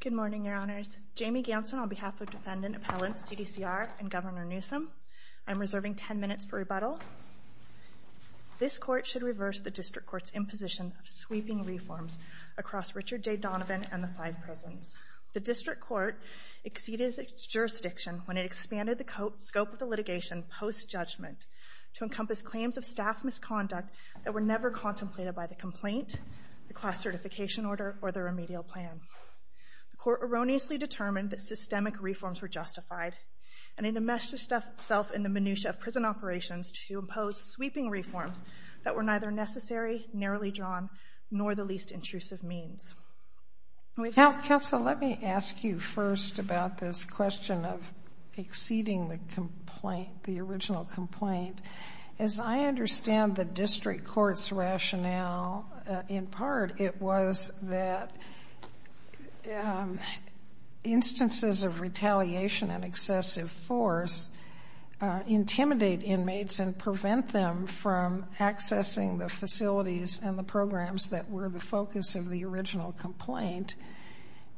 Good morning, Your Honors. Jamie Ganson on behalf of defendant appellants C.D.C.R. and Governor Newsom. I'm reserving ten minutes for rebuttal. This Court should reverse the District Court's imposition of sweeping reforms across Richard J. Donovan and the five prisons. The District Court exceeded its jurisdiction when it expanded the scope of the litigation post-judgment to encompass claims of staff misconduct that were never contemplated by the complaint, the class certification order, or the remedial plan. The Court erroneously determined that systemic reforms were justified, and it enmeshed itself in the minutia of prison operations to impose sweeping reforms that were neither necessary, narrowly drawn, nor the least intrusive means. Counsel, let me ask you first about this question of exceeding the original complaint. As I understand the District Court's rationale, in part it was that instances of retaliation and excessive force intimidate inmates and prevent them from accessing the facilities and the programs that were the focus of the original complaint,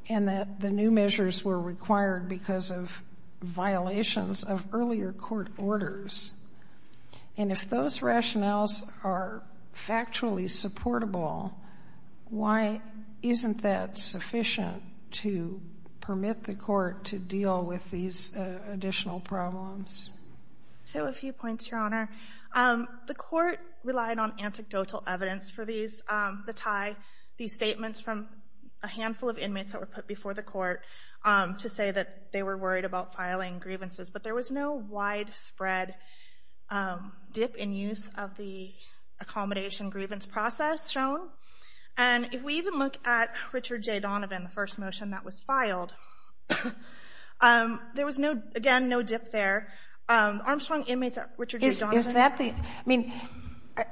and that the new measures were required because of violations of earlier court orders. And if those rationales are factually supportable, why isn't that sufficient to permit the Court to deal with these additional problems? So a few points, Your Honor. The Court relied on anecdotal evidence for the tie, these statements from a handful of inmates that were put before the Court to say that they were worried about filing grievances, but there was no widespread dip in use of the accommodation grievance process shown. And if we even look at Richard J. Donovan, the first motion that was filed, there was no, again, no dip there. Armstrong inmates, Richard J. Donovan? Is that the, I mean,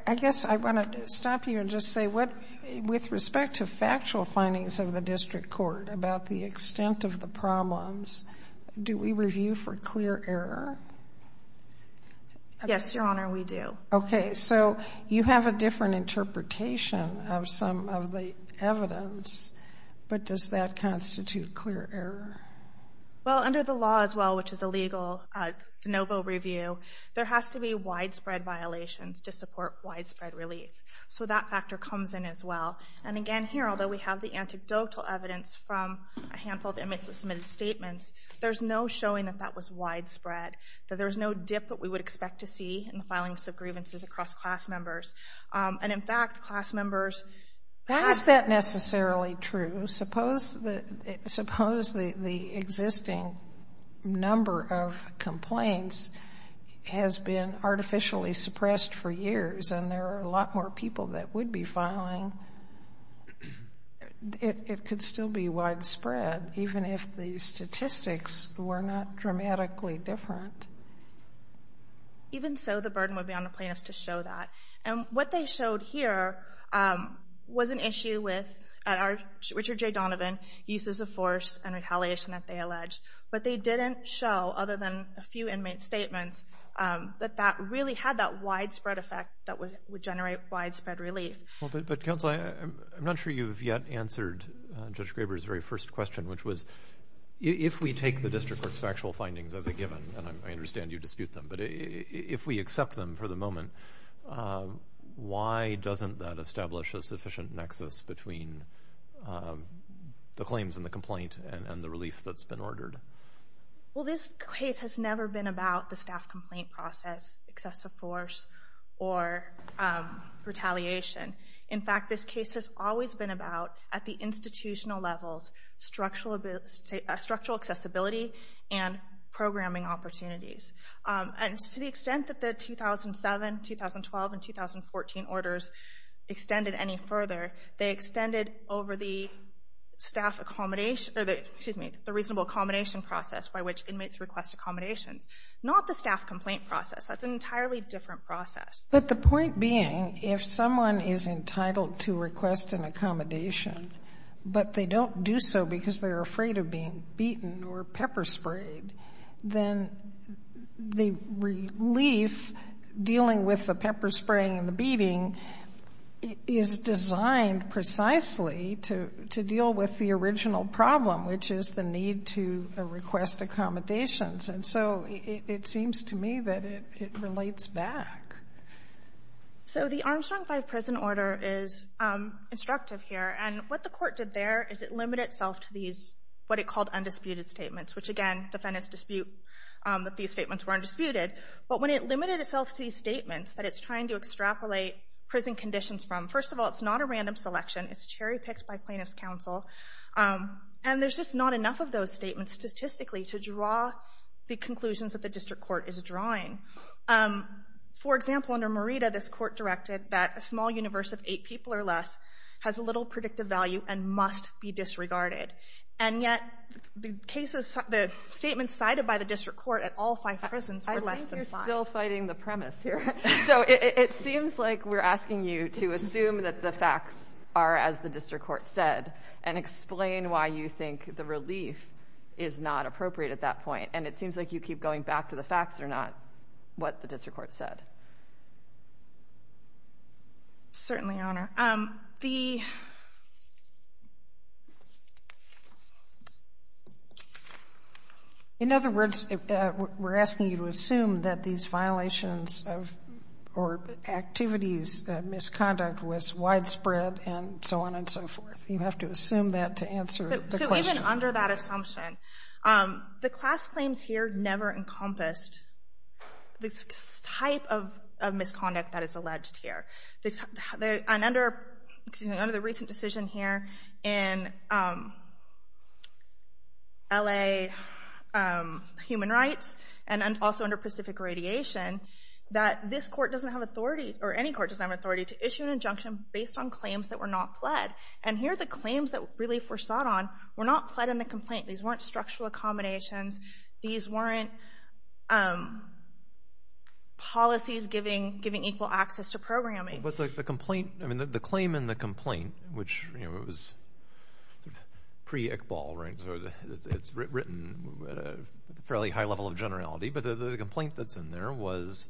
I guess I want to stop you and just say, with respect to factual findings of the District Court about the extent of the problems, do we review for clear error? Yes, Your Honor, we do. Okay. So you have a different interpretation of some of the evidence, but does that constitute clear error? Well, under the law as well, which is a legal de novo review, there has to be widespread violations to support widespread relief. So that factor comes in as well. And again, here, although we have the anecdotal evidence from a handful of inmates that submitted statements, there's no showing that that was widespread, that there was no dip that we would expect to see in the filings of grievances across class members. And in fact, class members passed that. That isn't necessarily true. So suppose the existing number of complaints has been artificially suppressed for years and there are a lot more people that would be filing, it could still be widespread, even if the statistics were not dramatically different. Even so, the burden would be on the plaintiffs to show that. And what they showed here was an issue with Richard J. Donovan, uses of force and retaliation that they alleged. But they didn't show, other than a few inmate statements, that that really had that widespread effect that would generate widespread relief. Well, but Counsel, I'm not sure you've yet answered Judge Graber's very first question, which was, if we take the District Court's factual findings as a given, and I understand you dispute them, but if we accept them for the moment, why doesn't that establish a sufficient nexus between the claims and the complaint and the relief that's been ordered? Well, this case has never been about the staff complaint process, excessive force, or retaliation. In fact, this case has always been about, at the institutional levels, structural accessibility and programming opportunities. And to the extent that the 2007, 2012, and 2014 orders extended any further, they extended over the staff accommodation or the, excuse me, the reasonable accommodation process by which inmates request accommodations, not the staff complaint process. That's an entirely different process. But the point being, if someone is entitled to request an accommodation, but they don't do so because they're afraid of being beaten or pepper sprayed, then the relief dealing with the pepper spraying and the beating is designed precisely to deal with the original problem, which is the need to request accommodations. And so it seems to me that it relates back. So the Armstrong 5 prison order is instructive here. And what the court did there is it limited itself to these, what it called undisputed statements, which again, defendants dispute that these statements were undisputed. But when it limited itself to these statements that it's trying to extrapolate prison conditions from, first of all, it's not a random selection. It's cherry picked by plaintiff's counsel. And there's just not enough of those statements statistically to draw the conclusions that the district court is drawing. For example, under Merida, this court directed that a small universe of eight people or less has a little predictive value and must be disregarded. And yet the cases, the statements cited by the district court at all five prisons were less than five. I think you're still fighting the premise here. So it seems like we're asking you to assume that the facts are as the district court said and explain why you think the relief is not appropriate at that point. And it seems like you keep going back to the facts are not what the district court said. Certainly, Your Honor. The In other words, we're asking you to assume that these violations of or activities of misconduct was widespread and so on and so forth. You have to assume that to answer the question. Certainly under that assumption, the class claims here never encompassed the type of misconduct that is alleged here. And under the recent decision here in L.A. human rights and also under Pacific Radiation, that this court doesn't have authority or any court doesn't have authority to issue an injunction based on claims that were not pled. And here, the claims that relief were sought on were not pled in the complaint. These weren't structural accommodations. These weren't policies giving equal access to programming. But the complaint, I mean, the claim in the complaint, which it was pre-Iqbal, right? It's written at a fairly high level of generality. But the complaint that's in there was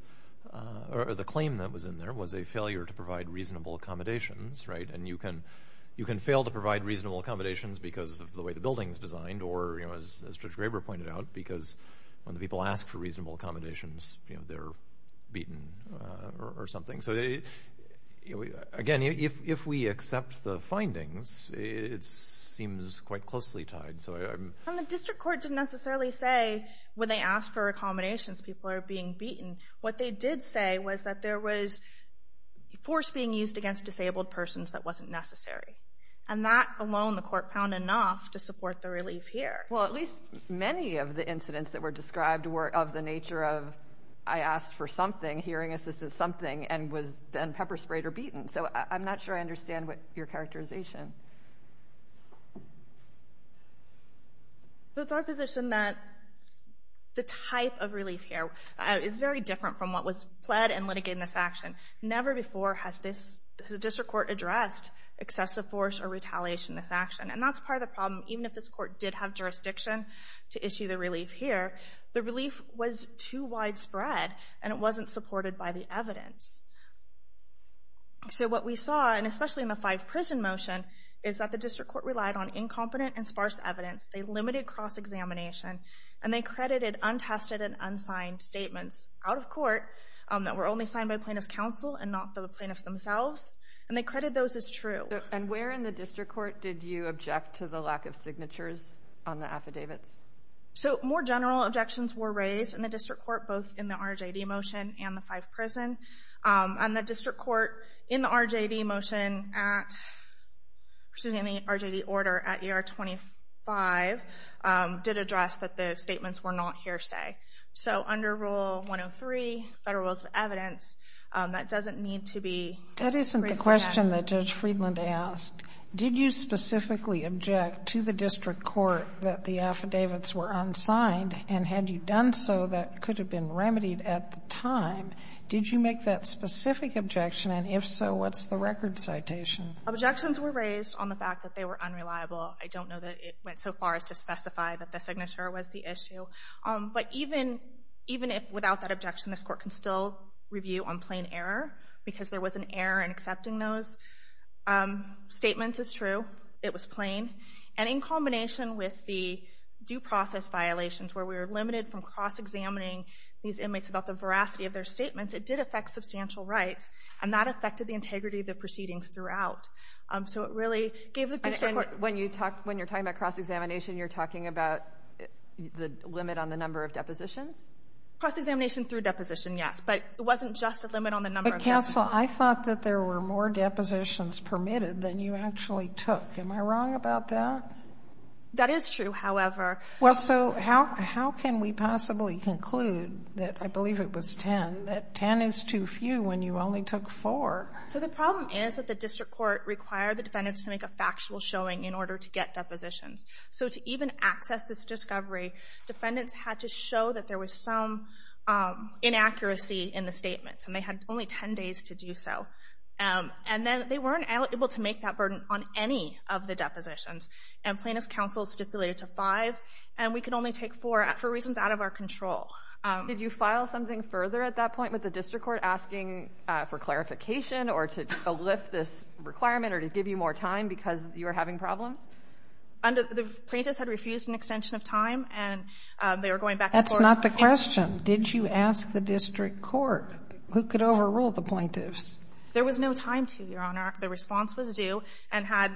or the claim that was in there was a failure to provide reasonable accommodations, right? And you can fail to provide reasonable accommodations because of the way the building's designed or, you know, as Judge Graber pointed out, because when the people ask for reasonable accommodations, you know, they're beaten or something. So again, if we accept the findings, it seems quite closely tied. So I'm... And the district court didn't necessarily say when they asked for accommodations, people are being beaten. What they did say was that there was force being used against disabled persons that wasn't necessary. And that alone, the court found enough to support the relief here. Well, at least many of the incidents that were described were of the nature of, I asked for something, hearing assistance, something, and was then pepper sprayed or beaten. So I'm not sure I understand what your characterization... So it's our position that the type of relief here is very different from what was pled and litigated in this action. Never before has this, has a district court addressed excessive force or retaliation in this action. And that's part of the problem. Even if this court did have jurisdiction to issue the relief here, the relief was too widespread and it wasn't supported by the evidence. So what we saw, and especially in the five prison motion, is that the district court relied on incompetent and sparse evidence. They limited cross-examination and they credited untested and unsigned statements out of court that were only signed by plaintiff's counsel and not the plaintiffs themselves. And they credit those as true. And where in the district court did you object to the lack of signatures on the affidavits? So more general objections were raised in the district court, both in the RJD motion and the five prison. And the district court, in the RJD motion at, excuse me, in the RJD order at ER 25, did address that the statements were not hearsay. So under Rule 103, Federal Rules of Evidence, that doesn't need to be raised again. That isn't the question that Judge Friedland asked. Did you specifically object to the district court that the affidavits were unsigned? And had you done so, that could have been remedied at the time. Did you make that specific objection? And if so, what's the record citation? Objections were raised on the fact that they were unreliable. I don't know that it went so far as to specify that the signature was the issue. But even if without that objection, this court can still review on plain error, because there was an error in accepting those statements as true. It was plain. And in combination with the due process violations, where we were limited from cross-examining these inmates about the veracity of their statements, it did affect substantial rights. And that affected the integrity of the proceedings throughout. So it really gave the district court... When you're talking about cross-examination, you're talking about the limit on the number of depositions? Cross-examination through deposition, yes. But it wasn't just a limit on the number of depositions. But, counsel, I thought that there were more depositions permitted than you actually took. Am I wrong about that? That is true, however. Well, so how can we possibly conclude that, I believe it was ten, that ten is too few when you only took four? So the problem is that the district court required the defendants to make a factual showing in order to get depositions. So to even access this discovery, defendants had to show that there was some inaccuracy in the statements. And they had only ten days to do so. And then they weren't able to make that burden on any of the depositions. And plaintiff's counsel stipulated to five. And we could only take four for reasons out of our control. Did you file something further at that point with the district court asking for clarification or to lift this requirement or to give you more time because you were having problems? The plaintiffs had refused an extension of time and they were going back and forth. That's not the question. Did you ask the district court who could overrule the plaintiffs? There was no time to, Your Honor. If the response was due and had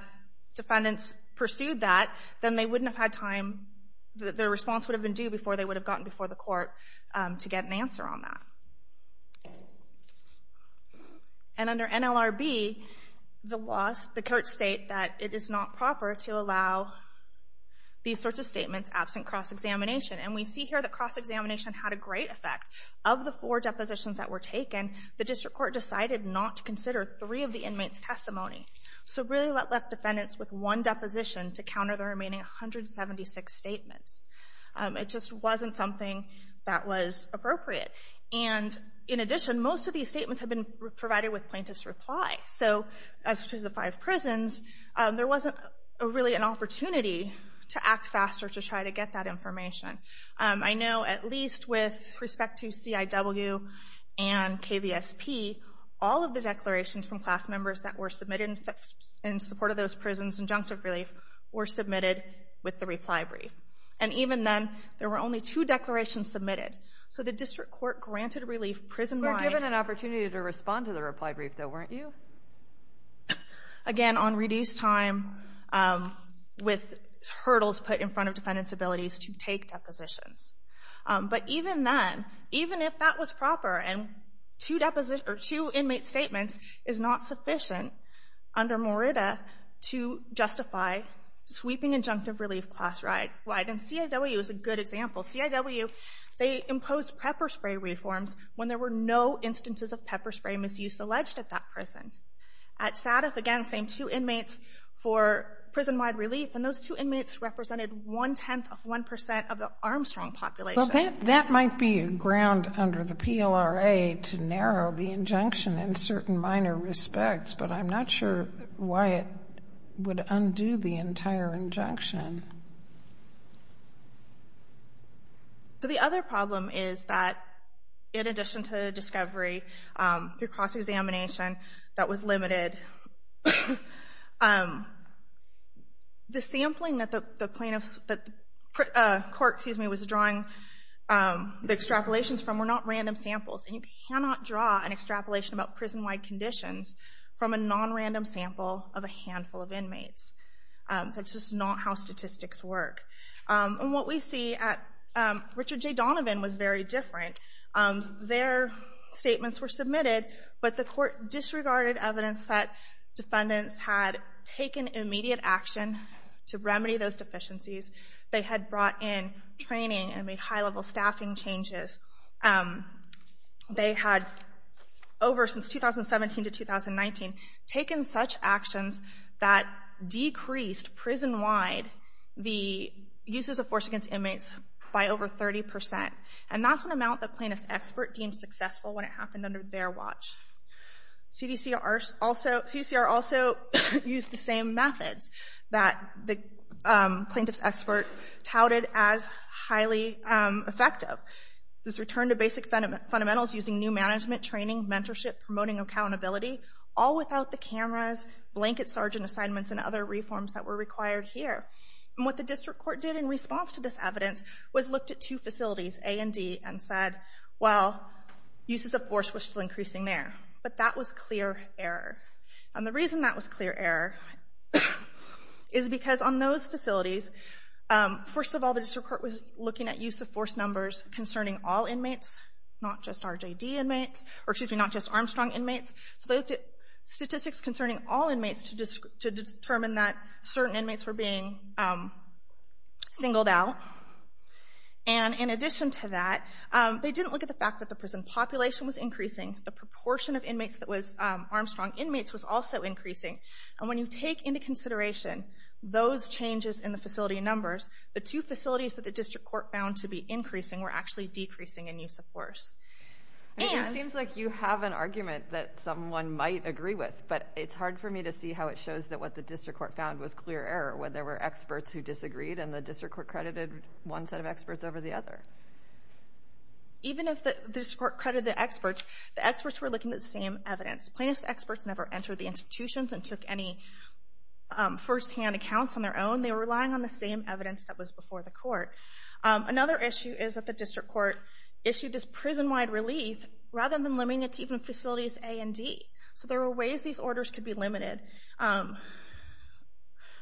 defendants pursued that, then they wouldn't have had time, the response would have been due before they would have gotten before the court to get an answer on that. And under NLRB, the laws, the courts state that it is not proper to allow these sorts of statements absent cross-examination. And we see here that cross-examination had a great effect. Of the four depositions that were taken, the district court decided not to consider three of the inmates' testimony. So it really left defendants with one deposition to counter the remaining 176 statements. It just wasn't something that was appropriate. And in addition, most of these statements had been provided with plaintiff's reply. So as to the five prisons, there wasn't really an opportunity to act faster to try to get that information. I know at least with respect to CIW and KVSP, all of the declarations from class members that were submitted in support of those prisons' injunctive relief were submitted with the reply brief. And even then, there were only two declarations submitted. So the district court granted relief prison-wide. You were given an opportunity to respond to the reply brief, though, weren't you? Again, on reduced time, with hurdles put in front of defendants' abilities to take depositions. But even then, even if that was proper, and two inmates' statements is not sufficient under Morita to justify sweeping injunctive relief class-wide. And CIW is a good example. CIW, they imposed pepper spray reforms when there were no instances of pepper spray misuse alleged at that prison. At SADF, again, same two inmates for prison-wide relief, and those two inmates represented one-tenth of one percent of the Armstrong population. Well, that might be ground under the PLRA to narrow the injunction in certain minor respects, but I'm not sure why it would undo the entire injunction. So the other problem is that, in addition to the discovery, through cross-examination, that was limited. The sampling that the plaintiffs, that the court, excuse me, was drawing the extrapolations from were not random samples. And you cannot draw an extrapolation about prison-wide conditions from a non-random sample of a handful of inmates. That's just not how statistics work. And what we see at Richard J. Donovan was very different. Their statements were submitted, but the court disregarded evidence that defendants had taken immediate action to remedy those deficiencies. They had brought in training and made high-level staffing changes. They had, over since 2017 to 2019, taken such actions that decreased prison-wide the uses of force against inmates by over 30 percent. And that's an amount the plaintiff's expert deemed successful when it happened under their watch. CDCR also used the same methods that the plaintiff's expert touted as highly effective. This return to basic fundamentals using new management, training, mentorship, promoting accountability, all without the cameras, blanket sergeant assignments, and other reforms that were required here. And what the district court did in response to this evidence was looked at two facilities, A and D, and said, well, uses of force were still increasing there. But that was clear error. And the reason that was clear error is because on those facilities, first of all, the district court was looking at use of force numbers concerning all inmates, not just RJD inmates, or excuse me, not just Armstrong inmates. So they looked at statistics concerning all inmates to determine that certain inmates were being singled out. And in addition to that, they didn't look at the fact that the prison population was increasing. The proportion of inmates that was Armstrong inmates was also increasing. And when you take into consideration those changes in the facility numbers, the two facilities that the district court found to be increasing were actually decreasing in use of force. It seems like you have an argument that someone might agree with, but it's hard for me to see how it shows that what the district court found was clear error when there were experts who disagreed and the district court credited one set of experts over the other. Even if the district court credited the experts, the experts were looking at the same evidence. Plaintiffs' experts never entered the institutions and took any firsthand accounts on their own. They were relying on the same evidence that was before the court. Another issue is that the district court issued this prison-wide relief rather than limiting it to even facilities A and D. So there were ways these orders could be limited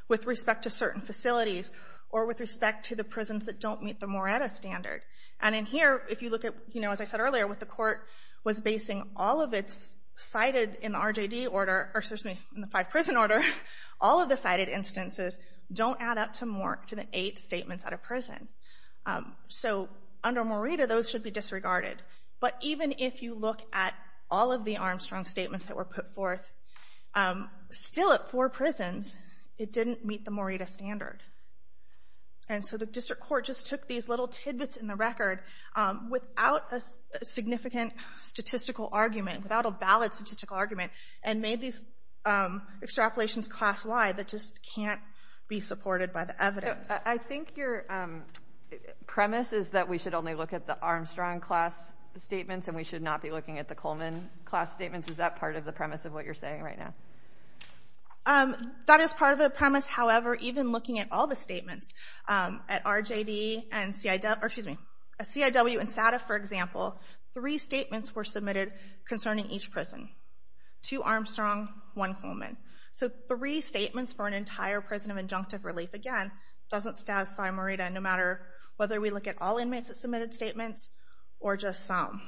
with respect to certain facilities or with respect to the prisons that don't meet the Moretta standard. And in here, if you look at, as I said earlier, what the court was basing all of its cited in the RJD order, or excuse me, in the five-prison order, all of the cited instances don't add up to the eight statements at a prison. So under Moretta, those should be disregarded. But even if you look at all of the Armstrong statements that were put forth, still at four prisons, it didn't meet the Moretta standard. And so the district court just took these little tidbits in the record without a significant statistical argument, without a valid statistical argument, and made these extrapolations class-wide that just can't be supported by the evidence. I think your premise is that we should only look at the Armstrong class statements and we should not be looking at the Coleman class statements. Is that part of the premise of what you're saying right now? That is part of the premise. However, even looking at all the statements, at RJD and CIW and SATA, for example, three statements were submitted concerning each prison. Two Armstrong, one Coleman. So three statements for an entire prison of injunctive relief, again, doesn't satisfy Moretta, no matter whether we look at all inmates that submitted statements or just some.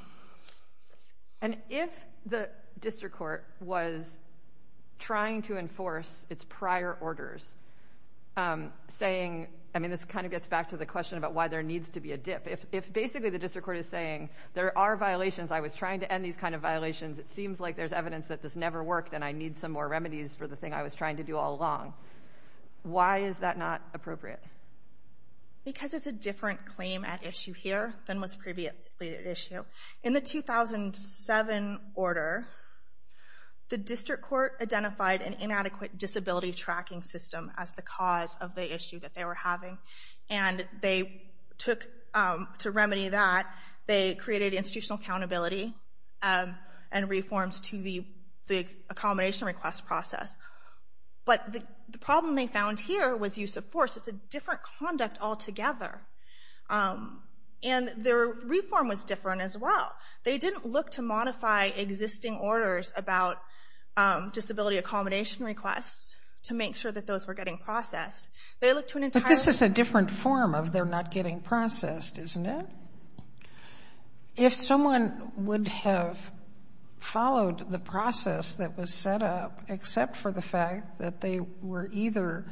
And if the district court was trying to enforce its prior orders, saying... I mean, this kind of gets back to the question about why there needs to be a dip. If basically the district court is saying, there are violations, I was trying to end these kind of violations, it seems like there's evidence that this never worked and I need some more remedies for the thing I was trying to do all along. Why is that not appropriate? Because it's a different claim at issue here than was previously at issue. In the 2007 order, the district court identified an inadequate disability tracking system as the cause of the issue that they were having. And they took... to remedy that, they created institutional accountability and reforms to the accommodation request process. But the problem they found here was use of force. It's a different conduct altogether. And their reform was different as well. They didn't look to modify existing orders about disability accommodation requests to make sure that those were getting processed. But this is a different form of they're not getting processed, isn't it? If someone would have followed the process that was set up except for the fact that they were either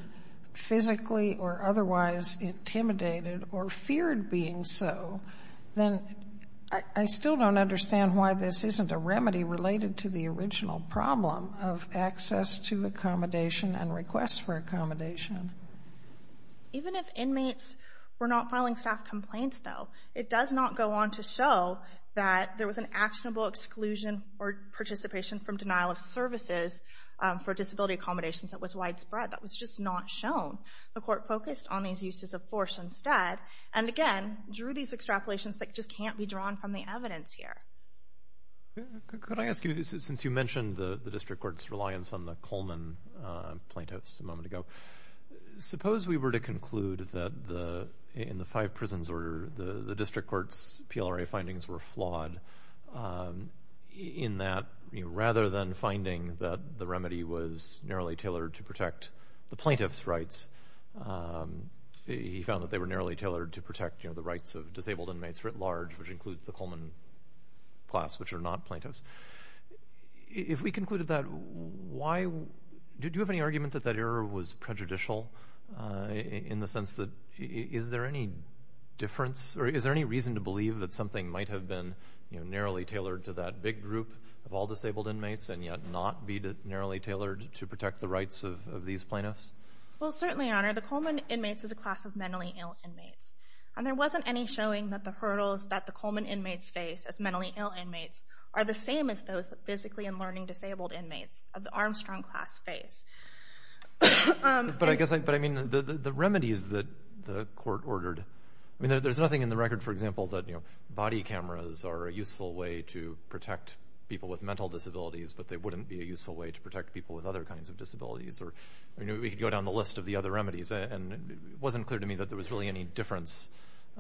physically or otherwise intimidated or feared being so, then I still don't understand why this isn't a remedy related to the original problem of access to accommodation and requests for accommodation. Even if inmates were not filing staff complaints, though, it does not go on to show that there was an actionable exclusion or participation from denial of services for disability accommodations that was widespread. That was just not shown. The court focused on these uses of force instead, and again drew these extrapolations that just can't be drawn from the evidence here. Could I ask you, since you mentioned the district court's reliance on the Coleman plaintiffs a moment ago, suppose we were to conclude that in the five prisons order, the district court's PLRA findings were flawed in that rather than finding that the remedy was narrowly tailored to protect the plaintiff's rights, he found that they were narrowly tailored to protect the rights of disabled inmates writ large, which includes the Coleman class, which are not plaintiffs. If we concluded that, do you have any argument that that error was prejudicial in the sense that is there any difference or is there any reason to believe that something might have been narrowly tailored to that big group of all disabled inmates and yet not be narrowly tailored to protect the rights of these plaintiffs? Well, certainly, Your Honor, the Coleman inmates is a class of mentally ill inmates, and there wasn't any showing that the hurdles that the Coleman inmates face as mentally ill inmates are the same as those physically and learning disabled inmates of the Armstrong class face. But I guess, I mean, the remedies that the court ordered, I mean, there's nothing in the record, for example, that, you know, body cameras are a useful way to protect people with mental disabilities, but they wouldn't be a useful way to protect people with other kinds of disabilities. We could go down the list of the other remedies, and it wasn't clear to me that there was really any difference.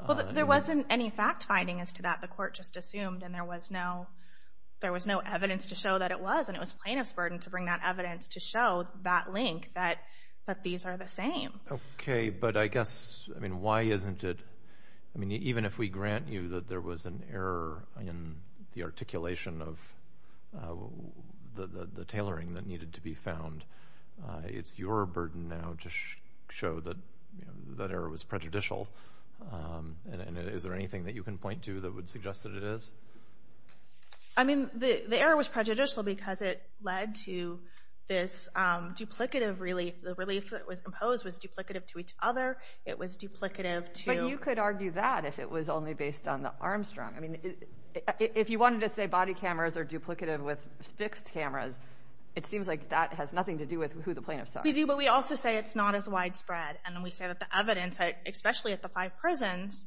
Well, there wasn't any fact-finding as to that. The court just assumed, and there was no evidence to show that it was, and it was plaintiff's burden to bring that evidence to show that link, that these are the same. Okay, but I guess, I mean, why isn't it, I mean, even if we grant you that there was an error in the articulation of the tailoring that needed to be found, it's your burden now to show that that error was prejudicial, and is there anything that you can point to that would suggest that it is? I mean, the error was prejudicial because it led to this duplicative relief. The relief that was imposed was duplicative to each other. It was duplicative to... But you could argue that if it was only based on the Armstrong. I mean, if you wanted to say body cameras are duplicative with fixed cameras, it seems like that has nothing to do with who the plaintiffs are. We do, but we also say it's not as widespread, and we say that the evidence, especially at the five prisons,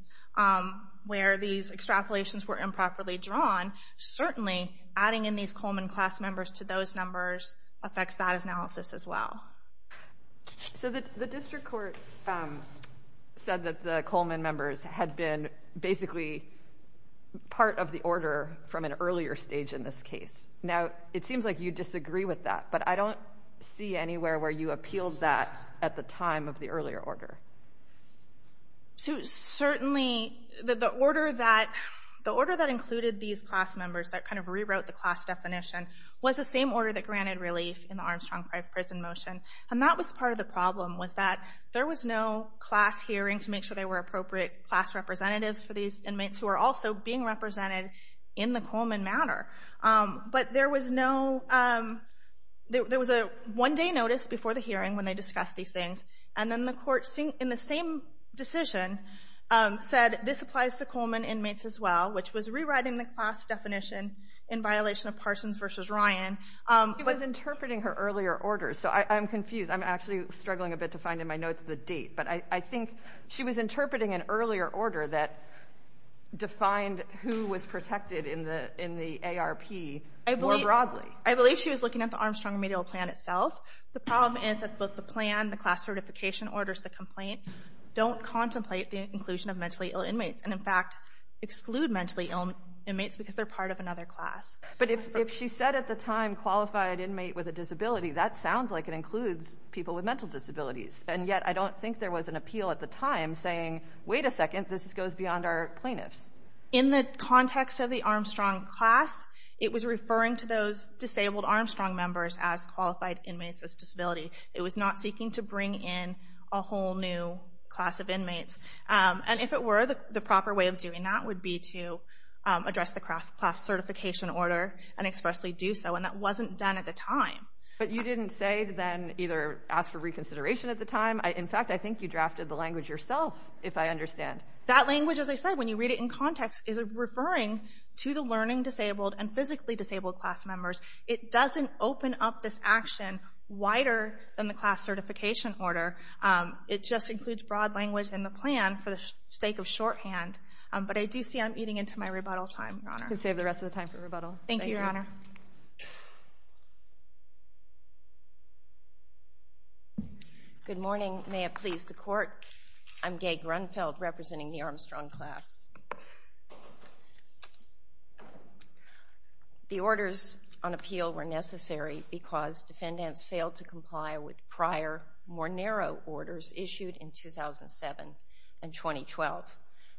where these extrapolations were improperly drawn, certainly adding in these Coleman class members to those numbers affects that analysis as well. So the district court said that the Coleman members had been basically part of the order from an earlier stage in this case. Now, it seems like you disagree with that, but I don't see anywhere where you appealed that at the time of the earlier order. Certainly, the order that included these class members that kind of rewrote the class definition was the same order that granted relief in the Armstrong 5 prison motion. And that was part of the problem, was that there was no class hearing to make sure there were appropriate class representatives for these inmates who were also being represented in the Coleman matter. But there was no... There was a one-day notice before the hearing when they discussed these things, and then the court, in the same decision, said this applies to Coleman inmates as well, which was rewriting the class definition in violation of Parsons v. Ryan. She was interpreting her earlier order, so I'm confused. I'm actually struggling a bit to find in my notes the date. But I think she was interpreting an earlier order that defined who was protected in the ARP more broadly. I believe she was looking at the Armstrong remedial plan itself. The problem is that both the plan, the class certification orders, the complaint, don't contemplate the inclusion of mentally ill inmates, and in fact exclude mentally ill inmates because they're part of another class. But if she said at the time, qualified inmate with a disability, that sounds like it includes people with mental disabilities. And yet I don't think there was an appeal at the time saying, wait a second, this goes beyond our plaintiffs. In the context of the Armstrong class, it was referring to those disabled Armstrong members as qualified inmates with disability. It was not seeking to bring in a whole new class of inmates. And if it were, the proper way of doing that would be to address the class certification order and expressly do so, and that wasn't done at the time. But you didn't say then either ask for reconsideration at the time. In fact, I think you drafted the language yourself, if I understand. That language, as I said, when you read it in context, is referring to the learning disabled and physically disabled class members. It doesn't open up this action wider than the class certification order. It just includes broad language in the plan for the sake of shorthand. But I do see I'm eating into my rebuttal time, Your Honor. You can save the rest of the time for rebuttal. Thank you, Your Honor. Good morning. May it please the Court. I'm Gay Grunfeld representing the Armstrong class. The orders on appeal were necessary because defendants failed to comply with prior more narrow orders issued in 2007 and 2012.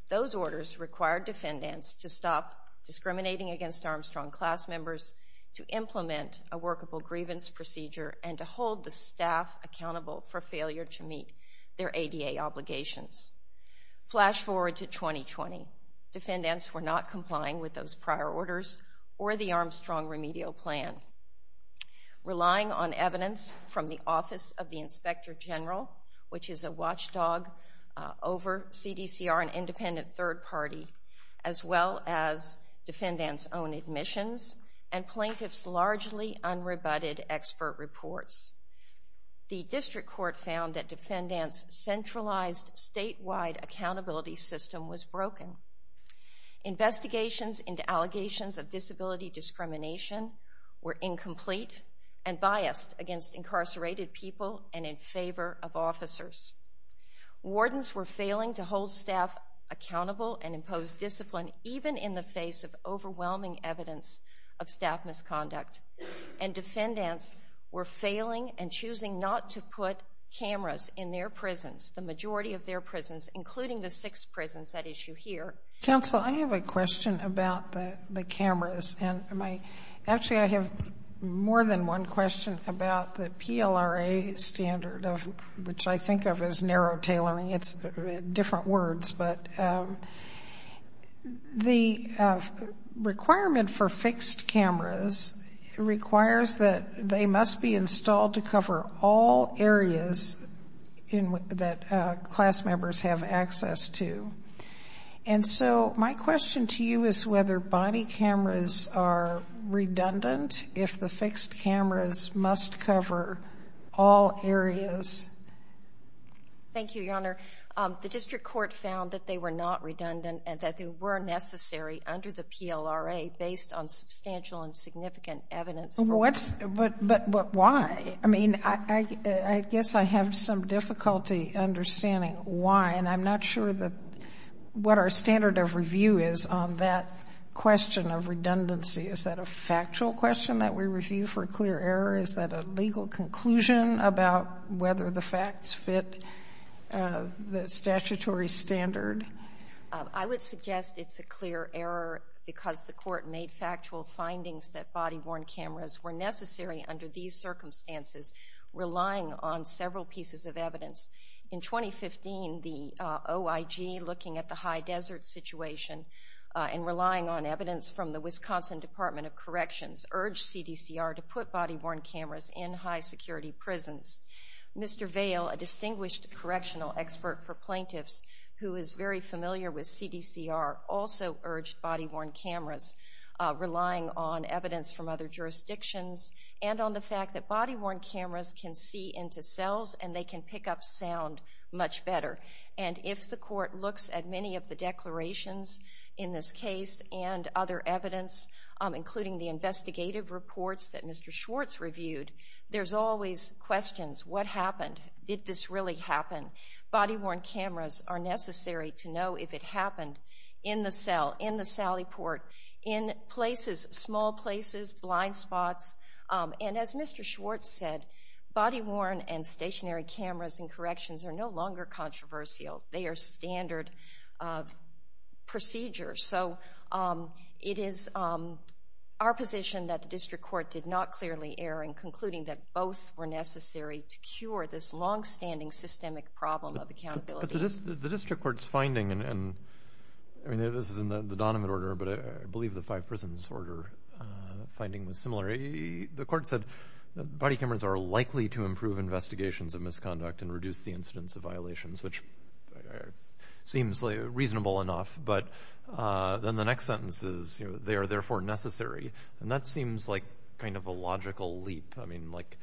Those orders required defendants to stop discriminating against Armstrong class members, to implement a workable grievance procedure, and to hold the staff accountable for failure to meet their ADA obligations. Flash forward to 2020. Defendants were not complying with those prior orders or the Armstrong remedial plan. Relying on evidence from the Office of the Inspector General, which is a watchdog over CDCR and independent third party, as well as defendants' own admissions and plaintiffs' largely unrebutted expert reports, the district court found that defendants' centralized statewide accountability system was broken. Investigations into allegations of disability discrimination were incomplete and biased against incarcerated people and in favor of officers. Wardens were failing to hold staff accountable and impose discipline even in the face of overwhelming evidence of staff misconduct. And defendants were failing and choosing not to put cameras in their prisons, the majority of their prisons, including the six prisons at issue here. Counsel, I have a question about the cameras. Actually, I have more than one question about the PLRA standard, which I think of as narrow tailoring. It's different words. But the requirement for fixed cameras requires that they must be installed to cover all areas that class members have access to. And so my question to you is whether body cameras are redundant if the fixed cameras must cover all areas. Thank you, Your Honor. The district court found that they were not redundant and that they were necessary under the PLRA based on substantial and significant evidence. But why? I mean, I guess I have some difficulty understanding why, and I'm not sure what our standard of review is on that question of redundancy. Is that a factual question that we review for clear error? Is that a legal conclusion about whether the facts fit the statutory standard? I would suggest it's a clear error because the court made factual findings that body-worn cameras were necessary under these circumstances, relying on several pieces of evidence. In 2015, the OIG, looking at the high desert situation and relying on evidence from the Wisconsin Department of Corrections, urged CDCR to put body-worn cameras in high-security prisons. Mr. Vail, a distinguished correctional expert for plaintiffs who is very familiar with CDCR, also urged body-worn cameras, relying on evidence from other jurisdictions and on the fact that body-worn cameras can see into cells and they can pick up sound much better. And if the court looks at many of the declarations in this case and other evidence, including the investigative reports that Mr. Schwartz reviewed, there's always questions. What happened? Did this really happen? Body-worn cameras are necessary to know if it happened in the cell, in the Sally Port, in places, small places, blind spots. And as Mr. Schwartz said, body-worn and stationary cameras in corrections are no longer controversial. They are standard procedures. So it is our position that the district court did not clearly err in concluding that both were necessary to cure this longstanding systemic problem of accountability. But the district court's finding, and this is in the Donovan order, but I believe the five prisons order finding was similar. The court said body cameras are likely to improve investigations of misconduct and reduce the incidence of violations, which seems reasonable enough. But then the next sentence is, they are therefore necessary. And that seems like kind of a logical leap. I mean, like,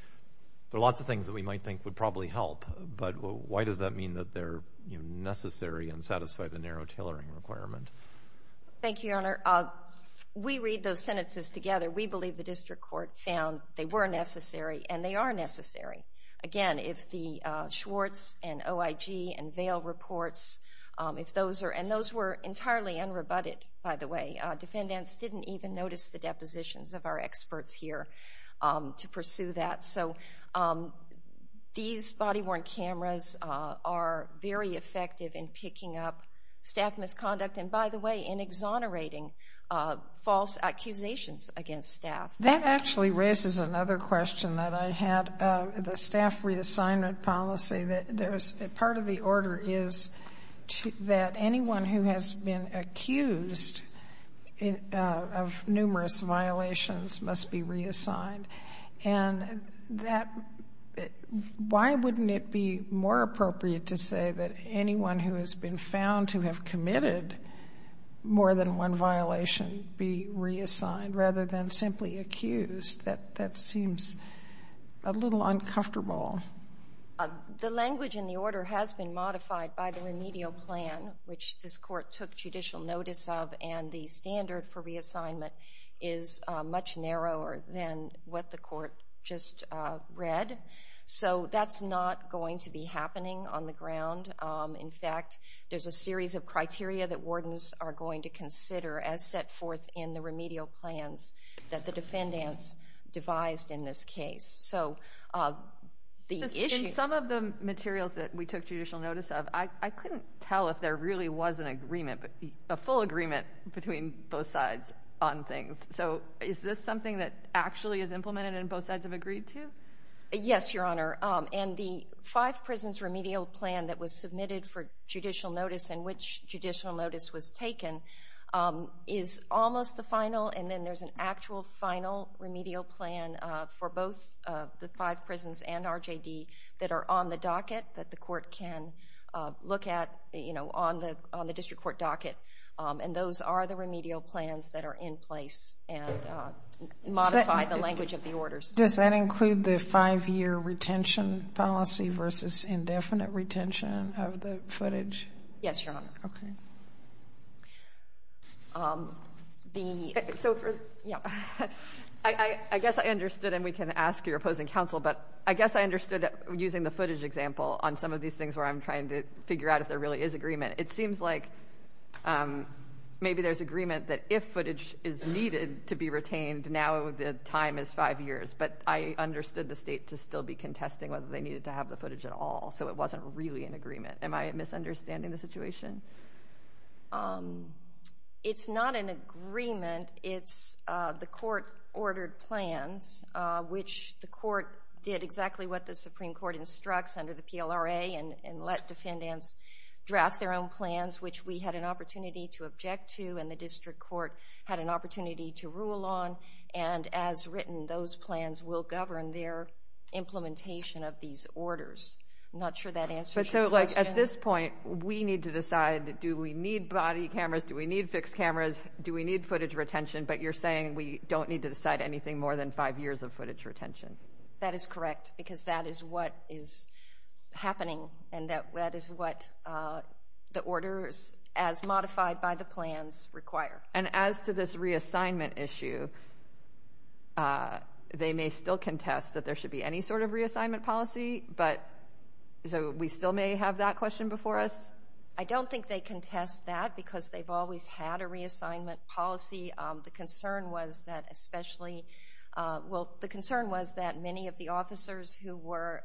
there are lots of things that we might think would probably help, but why does that mean that they're necessary and satisfy the narrow tailoring requirement? Thank you, Your Honor. We read those sentences together. We believe the district court found they were necessary, and they are necessary. Again, if the Schwartz and OIG and Vail reports, and those were entirely unrebutted, by the way. Defendants didn't even notice the depositions of our experts here to pursue that. So these body-worn cameras are very effective in picking up staff misconduct and, by the way, in exonerating false accusations against staff. That actually raises another question that I had. The staff reassignment policy, part of the order is that anyone who has been accused of numerous violations must be reassigned. And why wouldn't it be more appropriate to say that anyone who has been found to have committed more than one violation be reassigned rather than simply accused? That seems a little uncomfortable. The language in the order has been modified by the remedial plan, which this court took judicial notice of, and the standard for reassignment is much narrower than what the court just read. So that's not going to be happening on the ground. In fact, there's a series of criteria that wardens are going to consider as set forth in the remedial plans that the defendants devised in this case. In some of the materials that we took judicial notice of, I couldn't tell if there really was an agreement, a full agreement between both sides on things. So is this something that actually is implemented and both sides have agreed to? Yes, Your Honor. In the five prisons remedial plan that was submitted for judicial notice and which judicial notice was taken is almost the final, and then there's an actual final remedial plan for both the five prisons and RJD that are on the docket that the court can look at on the district court docket. And those are the remedial plans that are in place and modify the language of the orders. Does that include the five-year retention policy versus indefinite retention of the footage? Yes, Your Honor. Okay. I guess I understood, and we can ask your opposing counsel, but I guess I understood using the footage example on some of these things where I'm trying to figure out if there really is agreement. It seems like maybe there's agreement that if footage is needed to be retained, now the time is five years, but I understood the State to still be contesting whether they needed to have the footage at all, so it wasn't really an agreement. Am I misunderstanding the situation? It's not an agreement. It's the court-ordered plans, which the court did exactly what the Supreme Court instructs under the PLRA and let defendants draft their own plans, which we had an opportunity to object to and the district court had an opportunity to rule on, and as written, those plans will govern their implementation of these orders. I'm not sure that answers your question. At this point, we need to decide do we need body cameras, do we need fixed cameras, do we need footage retention, but you're saying we don't need to decide anything more than five years of footage retention. That is correct because that is what is happening and that is what the orders as modified by the plans require. And as to this reassignment issue, they may still contest that there should be any sort of reassignment policy, so we still may have that question before us? I don't think they contest that because they've always had a reassignment policy. The concern was that many of the officers who were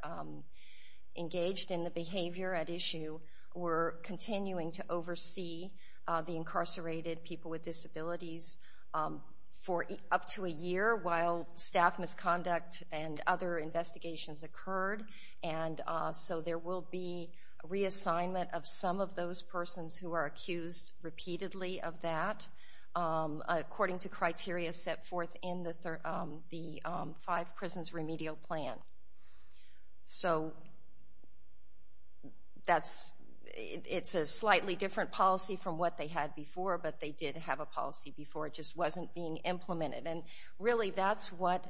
engaged in the behavior at issue were continuing to oversee the incarcerated people with disabilities for up to a year while staff misconduct and other investigations occurred, and so there will be reassignment of some of those persons who are accused repeatedly of that according to criteria set forth in the Five Prisons Remedial Plan. So it's a slightly different policy from what they had before, but they did have a policy before, it just wasn't being implemented. And really that's what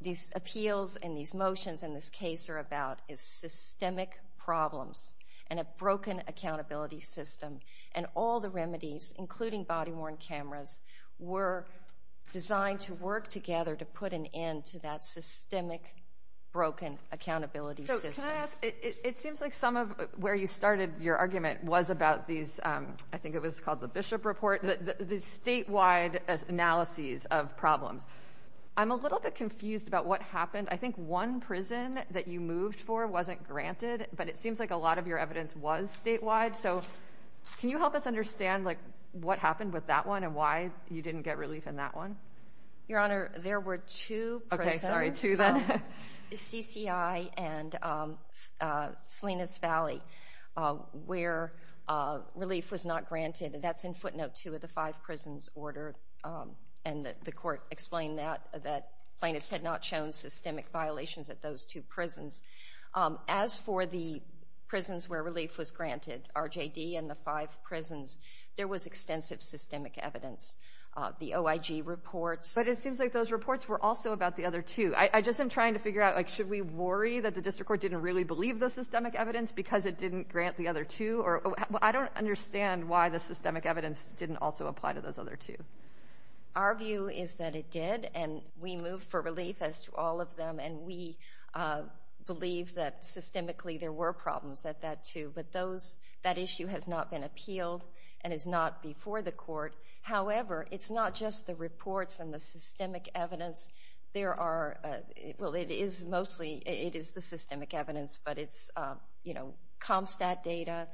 these appeals and these motions in this case are about, is systemic problems and a broken accountability system. And all the remedies, including body-worn cameras, were designed to work together to put an end to that systemic, broken accountability system. So can I ask, it seems like some of where you started your argument was about these, I think it was called the Bishop Report, the statewide analyses of problems. I'm a little bit confused about what happened. I think one prison that you moved for wasn't granted, but it seems like a lot of your evidence was statewide. So can you help us understand what happened with that one and why you didn't get relief in that one? Your Honor, there were two prisons, CCI and Salinas Valley, where relief was not granted. That's in footnote 2 of the Five Prisons Order, and the Court explained that plaintiffs had not shown systemic violations at those two prisons. As for the prisons where relief was granted, RJD and the Five Prisons, there was extensive systemic evidence. The OIG reports. But it seems like those reports were also about the other two. I just am trying to figure out, like, I don't understand why the systemic evidence didn't also apply to those other two. Our view is that it did, and we moved for relief as to all of them, and we believe that systemically there were problems at that too. But that issue has not been appealed and is not before the Court. However, it's not just the reports and the systemic evidence. Well, it is mostly the systemic evidence, but it's CompStat data,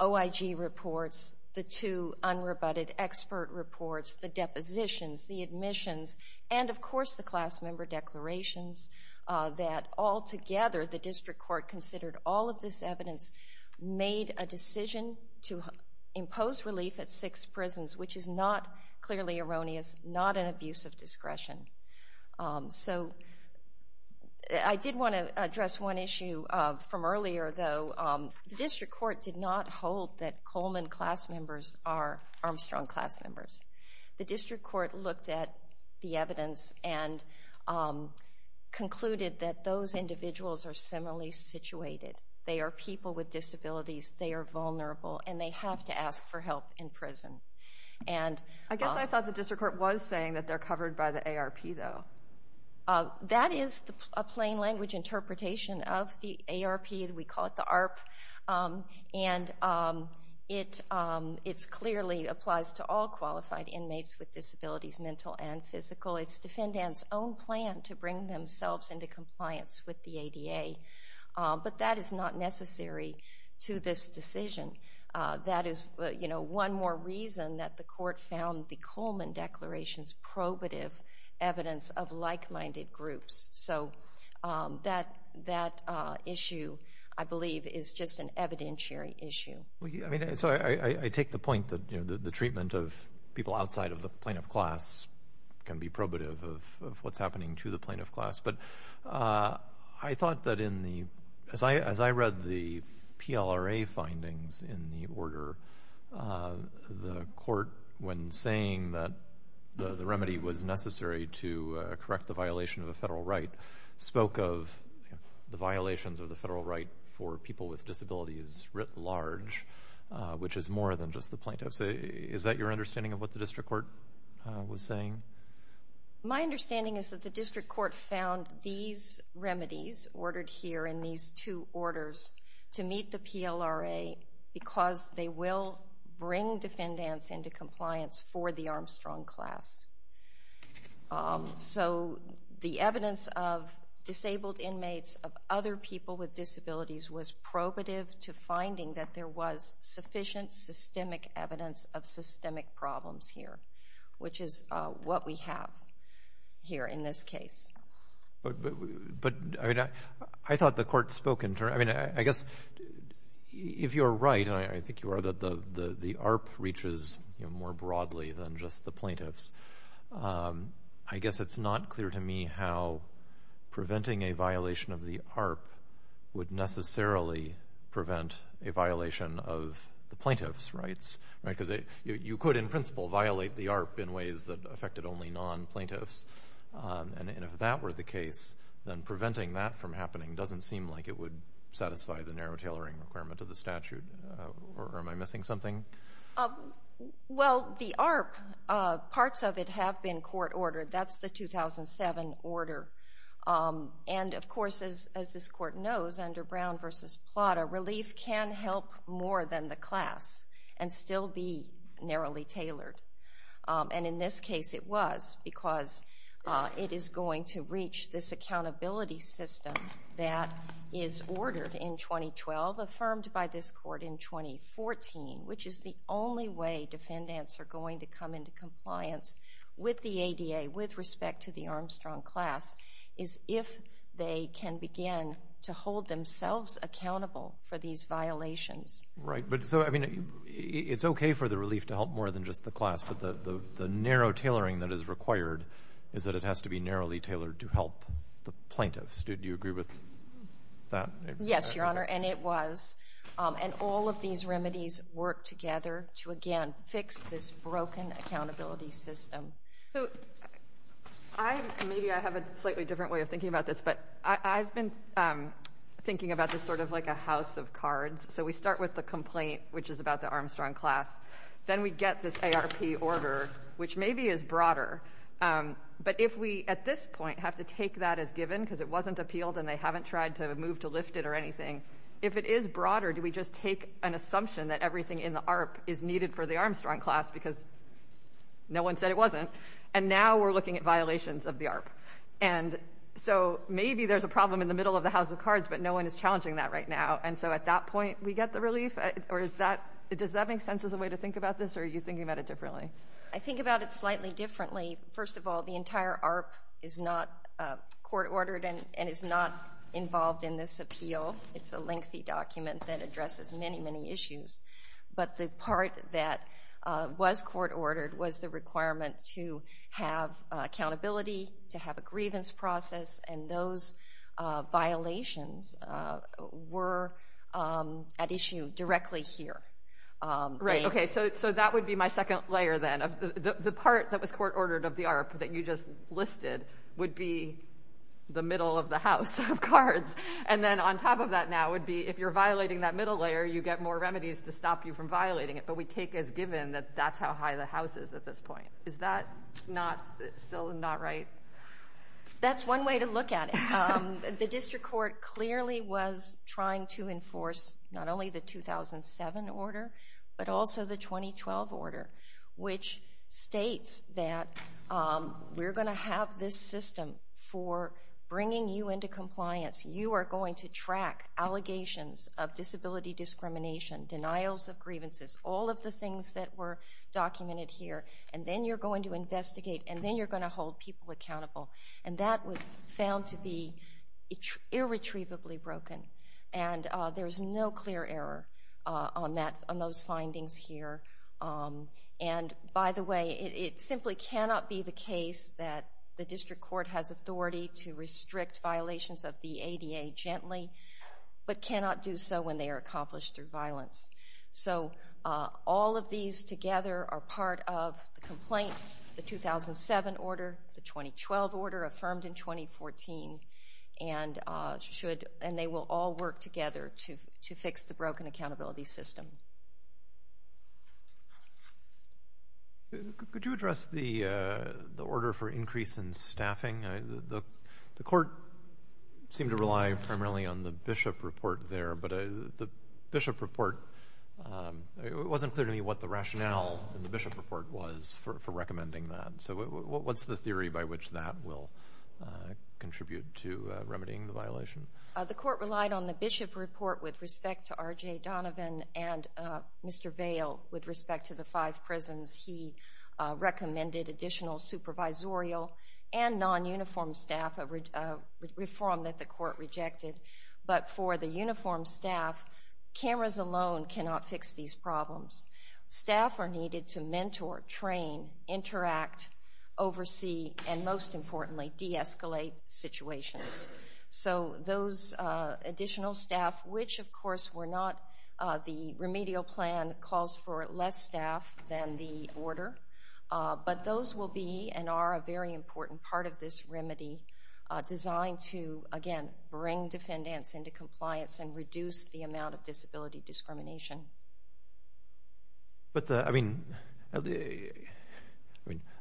OIG reports, the two unrebutted expert reports, the depositions, the admissions, and, of course, the class member declarations, that altogether the District Court considered all of this evidence, made a decision to impose relief at six prisons, which is not clearly erroneous, not an abuse of discretion. So I did want to address one issue from earlier, though. The District Court did not hold that Coleman class members are Armstrong class members. The District Court looked at the evidence and concluded that those individuals are similarly situated. They are people with disabilities. I guess I thought the District Court was saying that they're covered by the ARP, though. That is a plain language interpretation of the ARP. We call it the ARP. And it clearly applies to all qualified inmates with disabilities, mental and physical. It's Defendant's own plan to bring themselves into compliance with the ADA. But that is not necessary to this decision. That is one more reason that the court found the Coleman declarations probative evidence of like-minded groups. So that issue, I believe, is just an evidentiary issue. So I take the point that the treatment of people outside of the plaintiff class can be probative of what's happening to the plaintiff class. But I thought that as I read the PLRA findings in the order, the court, when saying that the remedy was necessary to correct the violation of a federal right, spoke of the violations of the federal right for people with disabilities writ large, which is more than just the plaintiffs. Is that your understanding of what the District Court was saying? My understanding is that the District Court found these remedies ordered here in these two orders to meet the PLRA because they will bring defendants into compliance for the Armstrong class. So the evidence of disabled inmates, of other people with disabilities, was probative to finding that there was sufficient systemic evidence of systemic problems here, which is what we have here in this case. But I thought the court spoke in terms of, I mean, I guess if you're right, and I think you are, that the ARP reaches more broadly than just the plaintiffs. I guess it's not clear to me how preventing a violation of the ARP because you could, in principle, violate the ARP in ways that affected only non-plaintiffs. And if that were the case, then preventing that from happening doesn't seem like it would satisfy the narrow tailoring requirement of the statute. Or am I missing something? Well, the ARP, parts of it have been court ordered. That's the 2007 order. And, of course, as this court knows, under Brown v. Plata, relief can help more than the class and still be narrowly tailored. And in this case it was because it is going to reach this accountability system that is ordered in 2012, affirmed by this court in 2014, which is the only way defendants are going to come into compliance with the ADA with respect to the Armstrong class, is if they can begin to hold themselves accountable for these violations. Right. But so, I mean, it's okay for the relief to help more than just the class, but the narrow tailoring that is required is that it has to be narrowly tailored to help the plaintiffs. Do you agree with that? Yes, Your Honor, and it was. And all of these remedies work together to, again, fix this broken accountability system. So maybe I have a slightly different way of thinking about this, but I've been thinking about this sort of like a house of cards. So we start with the complaint, which is about the Armstrong class. Then we get this ARP order, which maybe is broader, but if we at this point have to take that as given because it wasn't appealed and they haven't tried to move to lift it or anything, if it is broader, do we just take an assumption that everything in the ARP is needed for the Armstrong class because no one said it wasn't? And now we're looking at violations of the ARP. And so maybe there's a problem in the middle of the house of cards, but no one is challenging that right now. And so at that point, we get the relief? Does that make sense as a way to think about this, or are you thinking about it differently? I think about it slightly differently. First of all, the entire ARP is not court-ordered and is not involved in this appeal. It's a lengthy document that addresses many, many issues. But the part that was court-ordered was the requirement to have accountability, to have a grievance process, and those violations were at issue directly here. Right, okay, so that would be my second layer then. The part that was court-ordered of the ARP that you just listed would be the middle of the house of cards. And then on top of that now would be if you're violating that middle layer, you get more remedies to stop you from violating it, but we take as given that that's how high the house is at this point. Is that still not right? That's one way to look at it. The district court clearly was trying to enforce not only the 2007 order, but also the 2012 order, which states that we're going to have this system for bringing you into compliance. You are going to track allegations of disability discrimination, denials of grievances, all of the things that were documented here, and then you're going to investigate, and then you're going to hold people accountable. And that was found to be irretrievably broken, and there's no clear error on those findings here. And, by the way, it simply cannot be the case that the district court has authority to restrict violations of the ADA gently, but cannot do so when they are accomplished through violence. So all of these together are part of the complaint, the 2007 order, the 2012 order affirmed in 2014, and they will all work together to fix the broken accountability system. Could you address the order for increase in staffing? The court seemed to rely primarily on the Bishop report there, but the Bishop report wasn't clear to me what the rationale in the Bishop report was for recommending that. So what's the theory by which that will contribute to remedying the violation? The court relied on the Bishop report with respect to R.J. Donovan and Mr. Vail with respect to the five prisons. He recommended additional supervisorial and non-uniform staff, a reform that the court rejected. But for the uniform staff, cameras alone cannot fix these problems. Staff are needed to mentor, train, interact, oversee, and most importantly, de-escalate situations. So those additional staff, which of course were not the remedial plan, calls for less staff than the order, but those will be and are a very important part of this remedy designed to, again, bring defendants into compliance and reduce the amount of disability discrimination.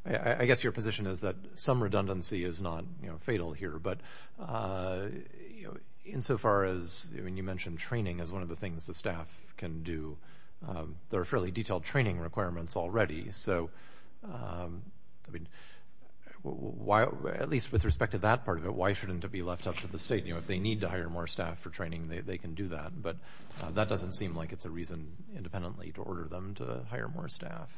I guess your position is that some redundancy is not fatal here, but insofar as you mentioned training as one of the things the staff can do, there are fairly detailed training requirements already, so at least with respect to that part of it, why shouldn't it be left up to the state? If they need to hire more staff for training, they can do that, but that doesn't seem like it's a reason independently to order them to hire more staff.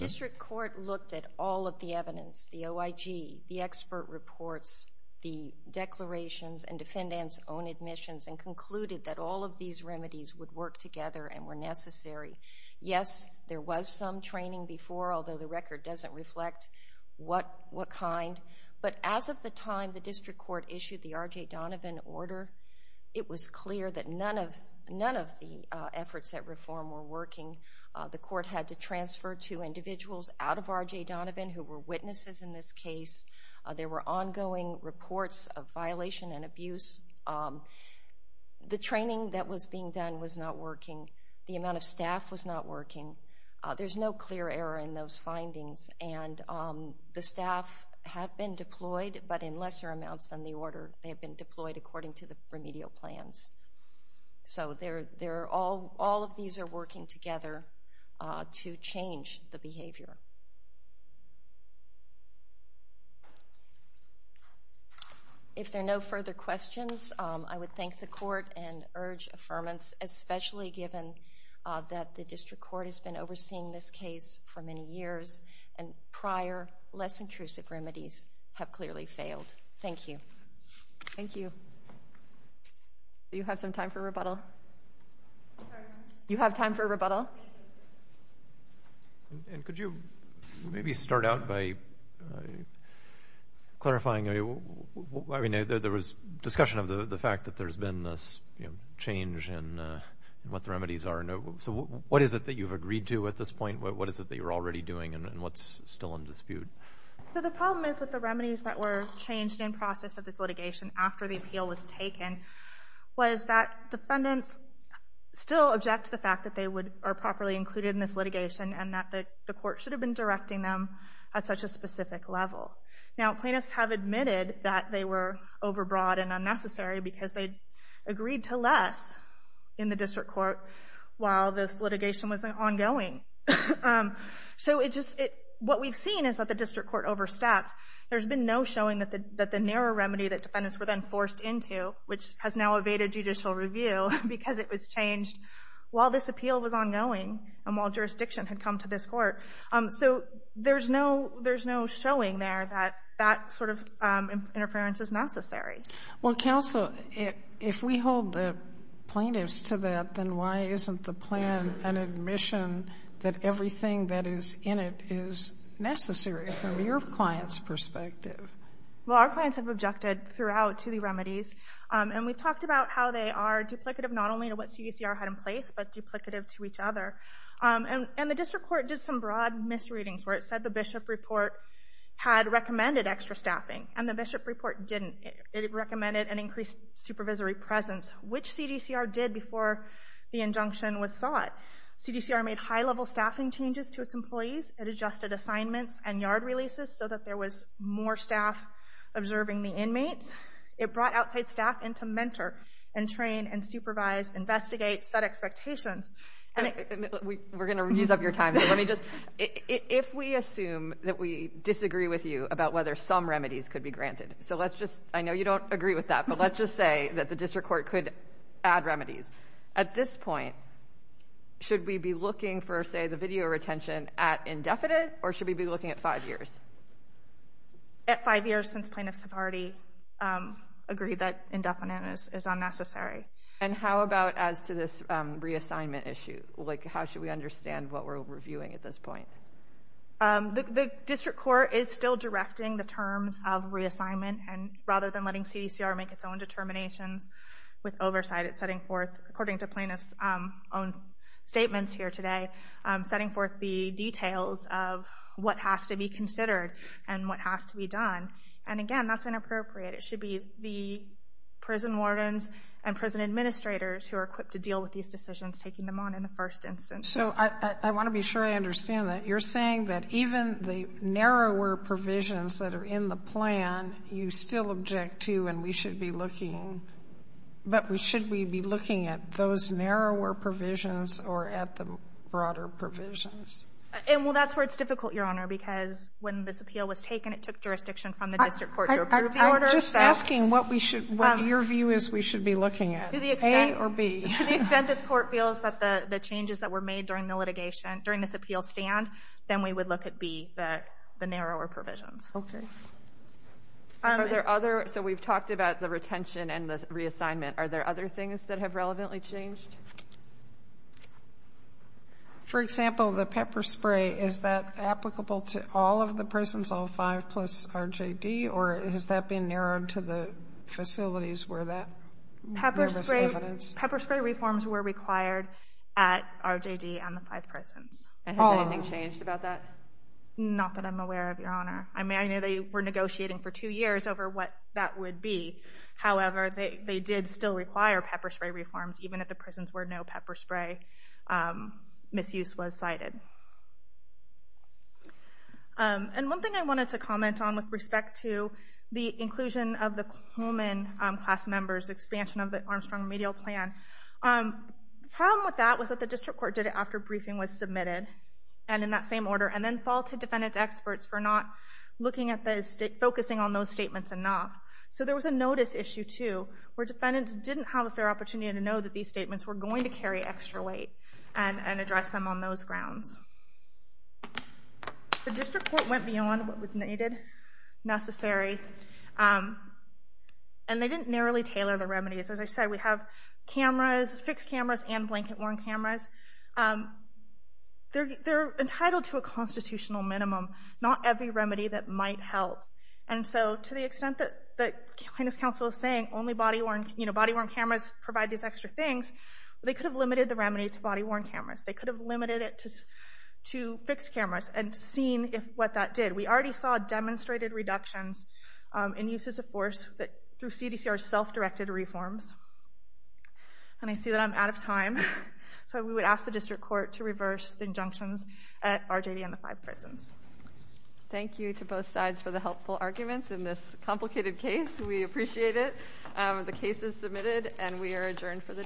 District court looked at all of the evidence, the OIG, the expert reports, the declarations and defendants' own admissions and concluded that all of these remedies would work together and were necessary. Yes, there was some training before, although the record doesn't reflect what kind, but as of the time the district court issued the R.J. Donovan order, it was clear that none of the efforts at reform were working. The court had to transfer two individuals out of R.J. Donovan who were witnesses in this case. There were ongoing reports of violation and abuse. The training that was being done was not working. The amount of staff was not working. There's no clear error in those findings, and the staff have been deployed, but in lesser amounts than the order. They have been deployed according to the remedial plans. So all of these are working together to change the behavior. If there are no further questions, I would thank the court and urge affirmance, especially given that the district court has been overseeing this case for many years and prior less intrusive remedies have clearly failed. Thank you. Thank you. Do you have some time for rebuttal? Sorry? Do you have time for rebuttal? Thank you. Could you maybe start out by clarifying? There was discussion of the fact that there's been this change in what the remedies are. So what is it that you've agreed to at this point? What is it that you're already doing, and what's still in dispute? So the problem is with the remedies that were changed in process of this litigation after the appeal was taken was that defendants still object to the fact that they are properly included in this litigation and that the court should have been directing them at such a specific level. Now, plaintiffs have admitted that they were overbroad and unnecessary because they agreed to less in the district court while this litigation was ongoing. So what we've seen is that the district court overstepped. There's been no showing that the narrow remedy that defendants were then forced into, which has now evaded judicial review because it was changed while this appeal was ongoing and while jurisdiction had come to this court. So there's no showing there that that sort of interference is necessary. Well, counsel, if we hold the plaintiffs to that, then why isn't the plan an admission that everything that is in it is necessary from your client's perspective? Well, our clients have objected throughout to the remedies, and we've talked about how they are duplicative not only to what CDCR had in place but duplicative to each other. And the district court did some broad misreadings where it said the Bishop report had recommended extra staffing, and the Bishop report didn't. It recommended an increased supervisory presence, which CDCR did before the injunction was sought. CDCR made high-level staffing changes to its employees. It adjusted assignments and yard releases so that there was more staff observing the inmates. It brought outside staff in to mentor and train and supervise, investigate, set expectations. We're going to use up your time, but let me just, if we assume that we disagree with you about whether some remedies could be granted, so let's just, I know you don't agree with that, but let's just say that the district court could add remedies. At this point, should we be looking for, say, the video retention at indefinite, or should we be looking at five years? At five years since plaintiffs have already agreed that indefinite is unnecessary. And how about as to this reassignment issue? Like, how should we understand what we're reviewing at this point? The district court is still directing the terms of reassignment, and rather than letting CDCR make its own determinations with oversight, it's setting forth, according to plaintiffs' own statements here today, setting forth the details of what has to be considered and what has to be done. And again, that's inappropriate. It should be the prison wardens and prison administrators who are equipped to deal with these decisions taking them on in the first instance. So I want to be sure I understand that. You're saying that even the narrower provisions that are in the plan, you still object to and we should be looking, but should we be looking at those narrower provisions or at the broader provisions? Well, that's where it's difficult, Your Honor, because when this appeal was taken, it took jurisdiction from the district court to approve the order. I'm just asking what we should, what your view is we should be looking at. A or B? To the extent this court feels that the changes that were made during the litigation, during this appeal stand, then we would look at B, the narrower provisions. Okay. Are there other? So we've talked about the retention and the reassignment. Are there other things that have relevantly changed? For example, the pepper spray, is that applicable to all of the prisons, all five plus RJD, or has that been narrowed to the facilities where that? Pepper spray reforms were required at RJD and the five prisons. And has anything changed about that? Not that I'm aware of, Your Honor. I mean, I know they were negotiating for two years over what that would be. However, they did still require pepper spray reforms, even if the prisons where no pepper spray misuse was cited. And one thing I wanted to comment on with respect to the inclusion of the Coleman class members, expansion of the Armstrong remedial plan, the problem with that was that the district court did it after briefing was submitted, and in that same order, and then faulted defendant's experts for not looking at the, focusing on those statements enough. So there was a notice issue, too, where defendants didn't have a fair opportunity to know that these statements were going to carry extra weight and address them on those grounds. The district court went beyond what was needed, necessary, and they didn't narrowly tailor the remedies. As I said, we have cameras, fixed cameras, and blanket-worn cameras. They're entitled to a constitutional minimum, not every remedy that might help. And so to the extent that the plaintiff's counsel is saying only body-worn cameras provide these extra things, they could have limited the remedy to body-worn cameras. They could have limited it to fixed cameras and seen what that did. We already saw demonstrated reductions in uses of force through CDCR's self-directed reforms. And I see that I'm out of time, so we would ask the district court to reverse the injunctions at RJD and the five prisons. Thank you to both sides for the helpful arguments in this complicated case. We appreciate it. The case is submitted, and we are adjourned for the day.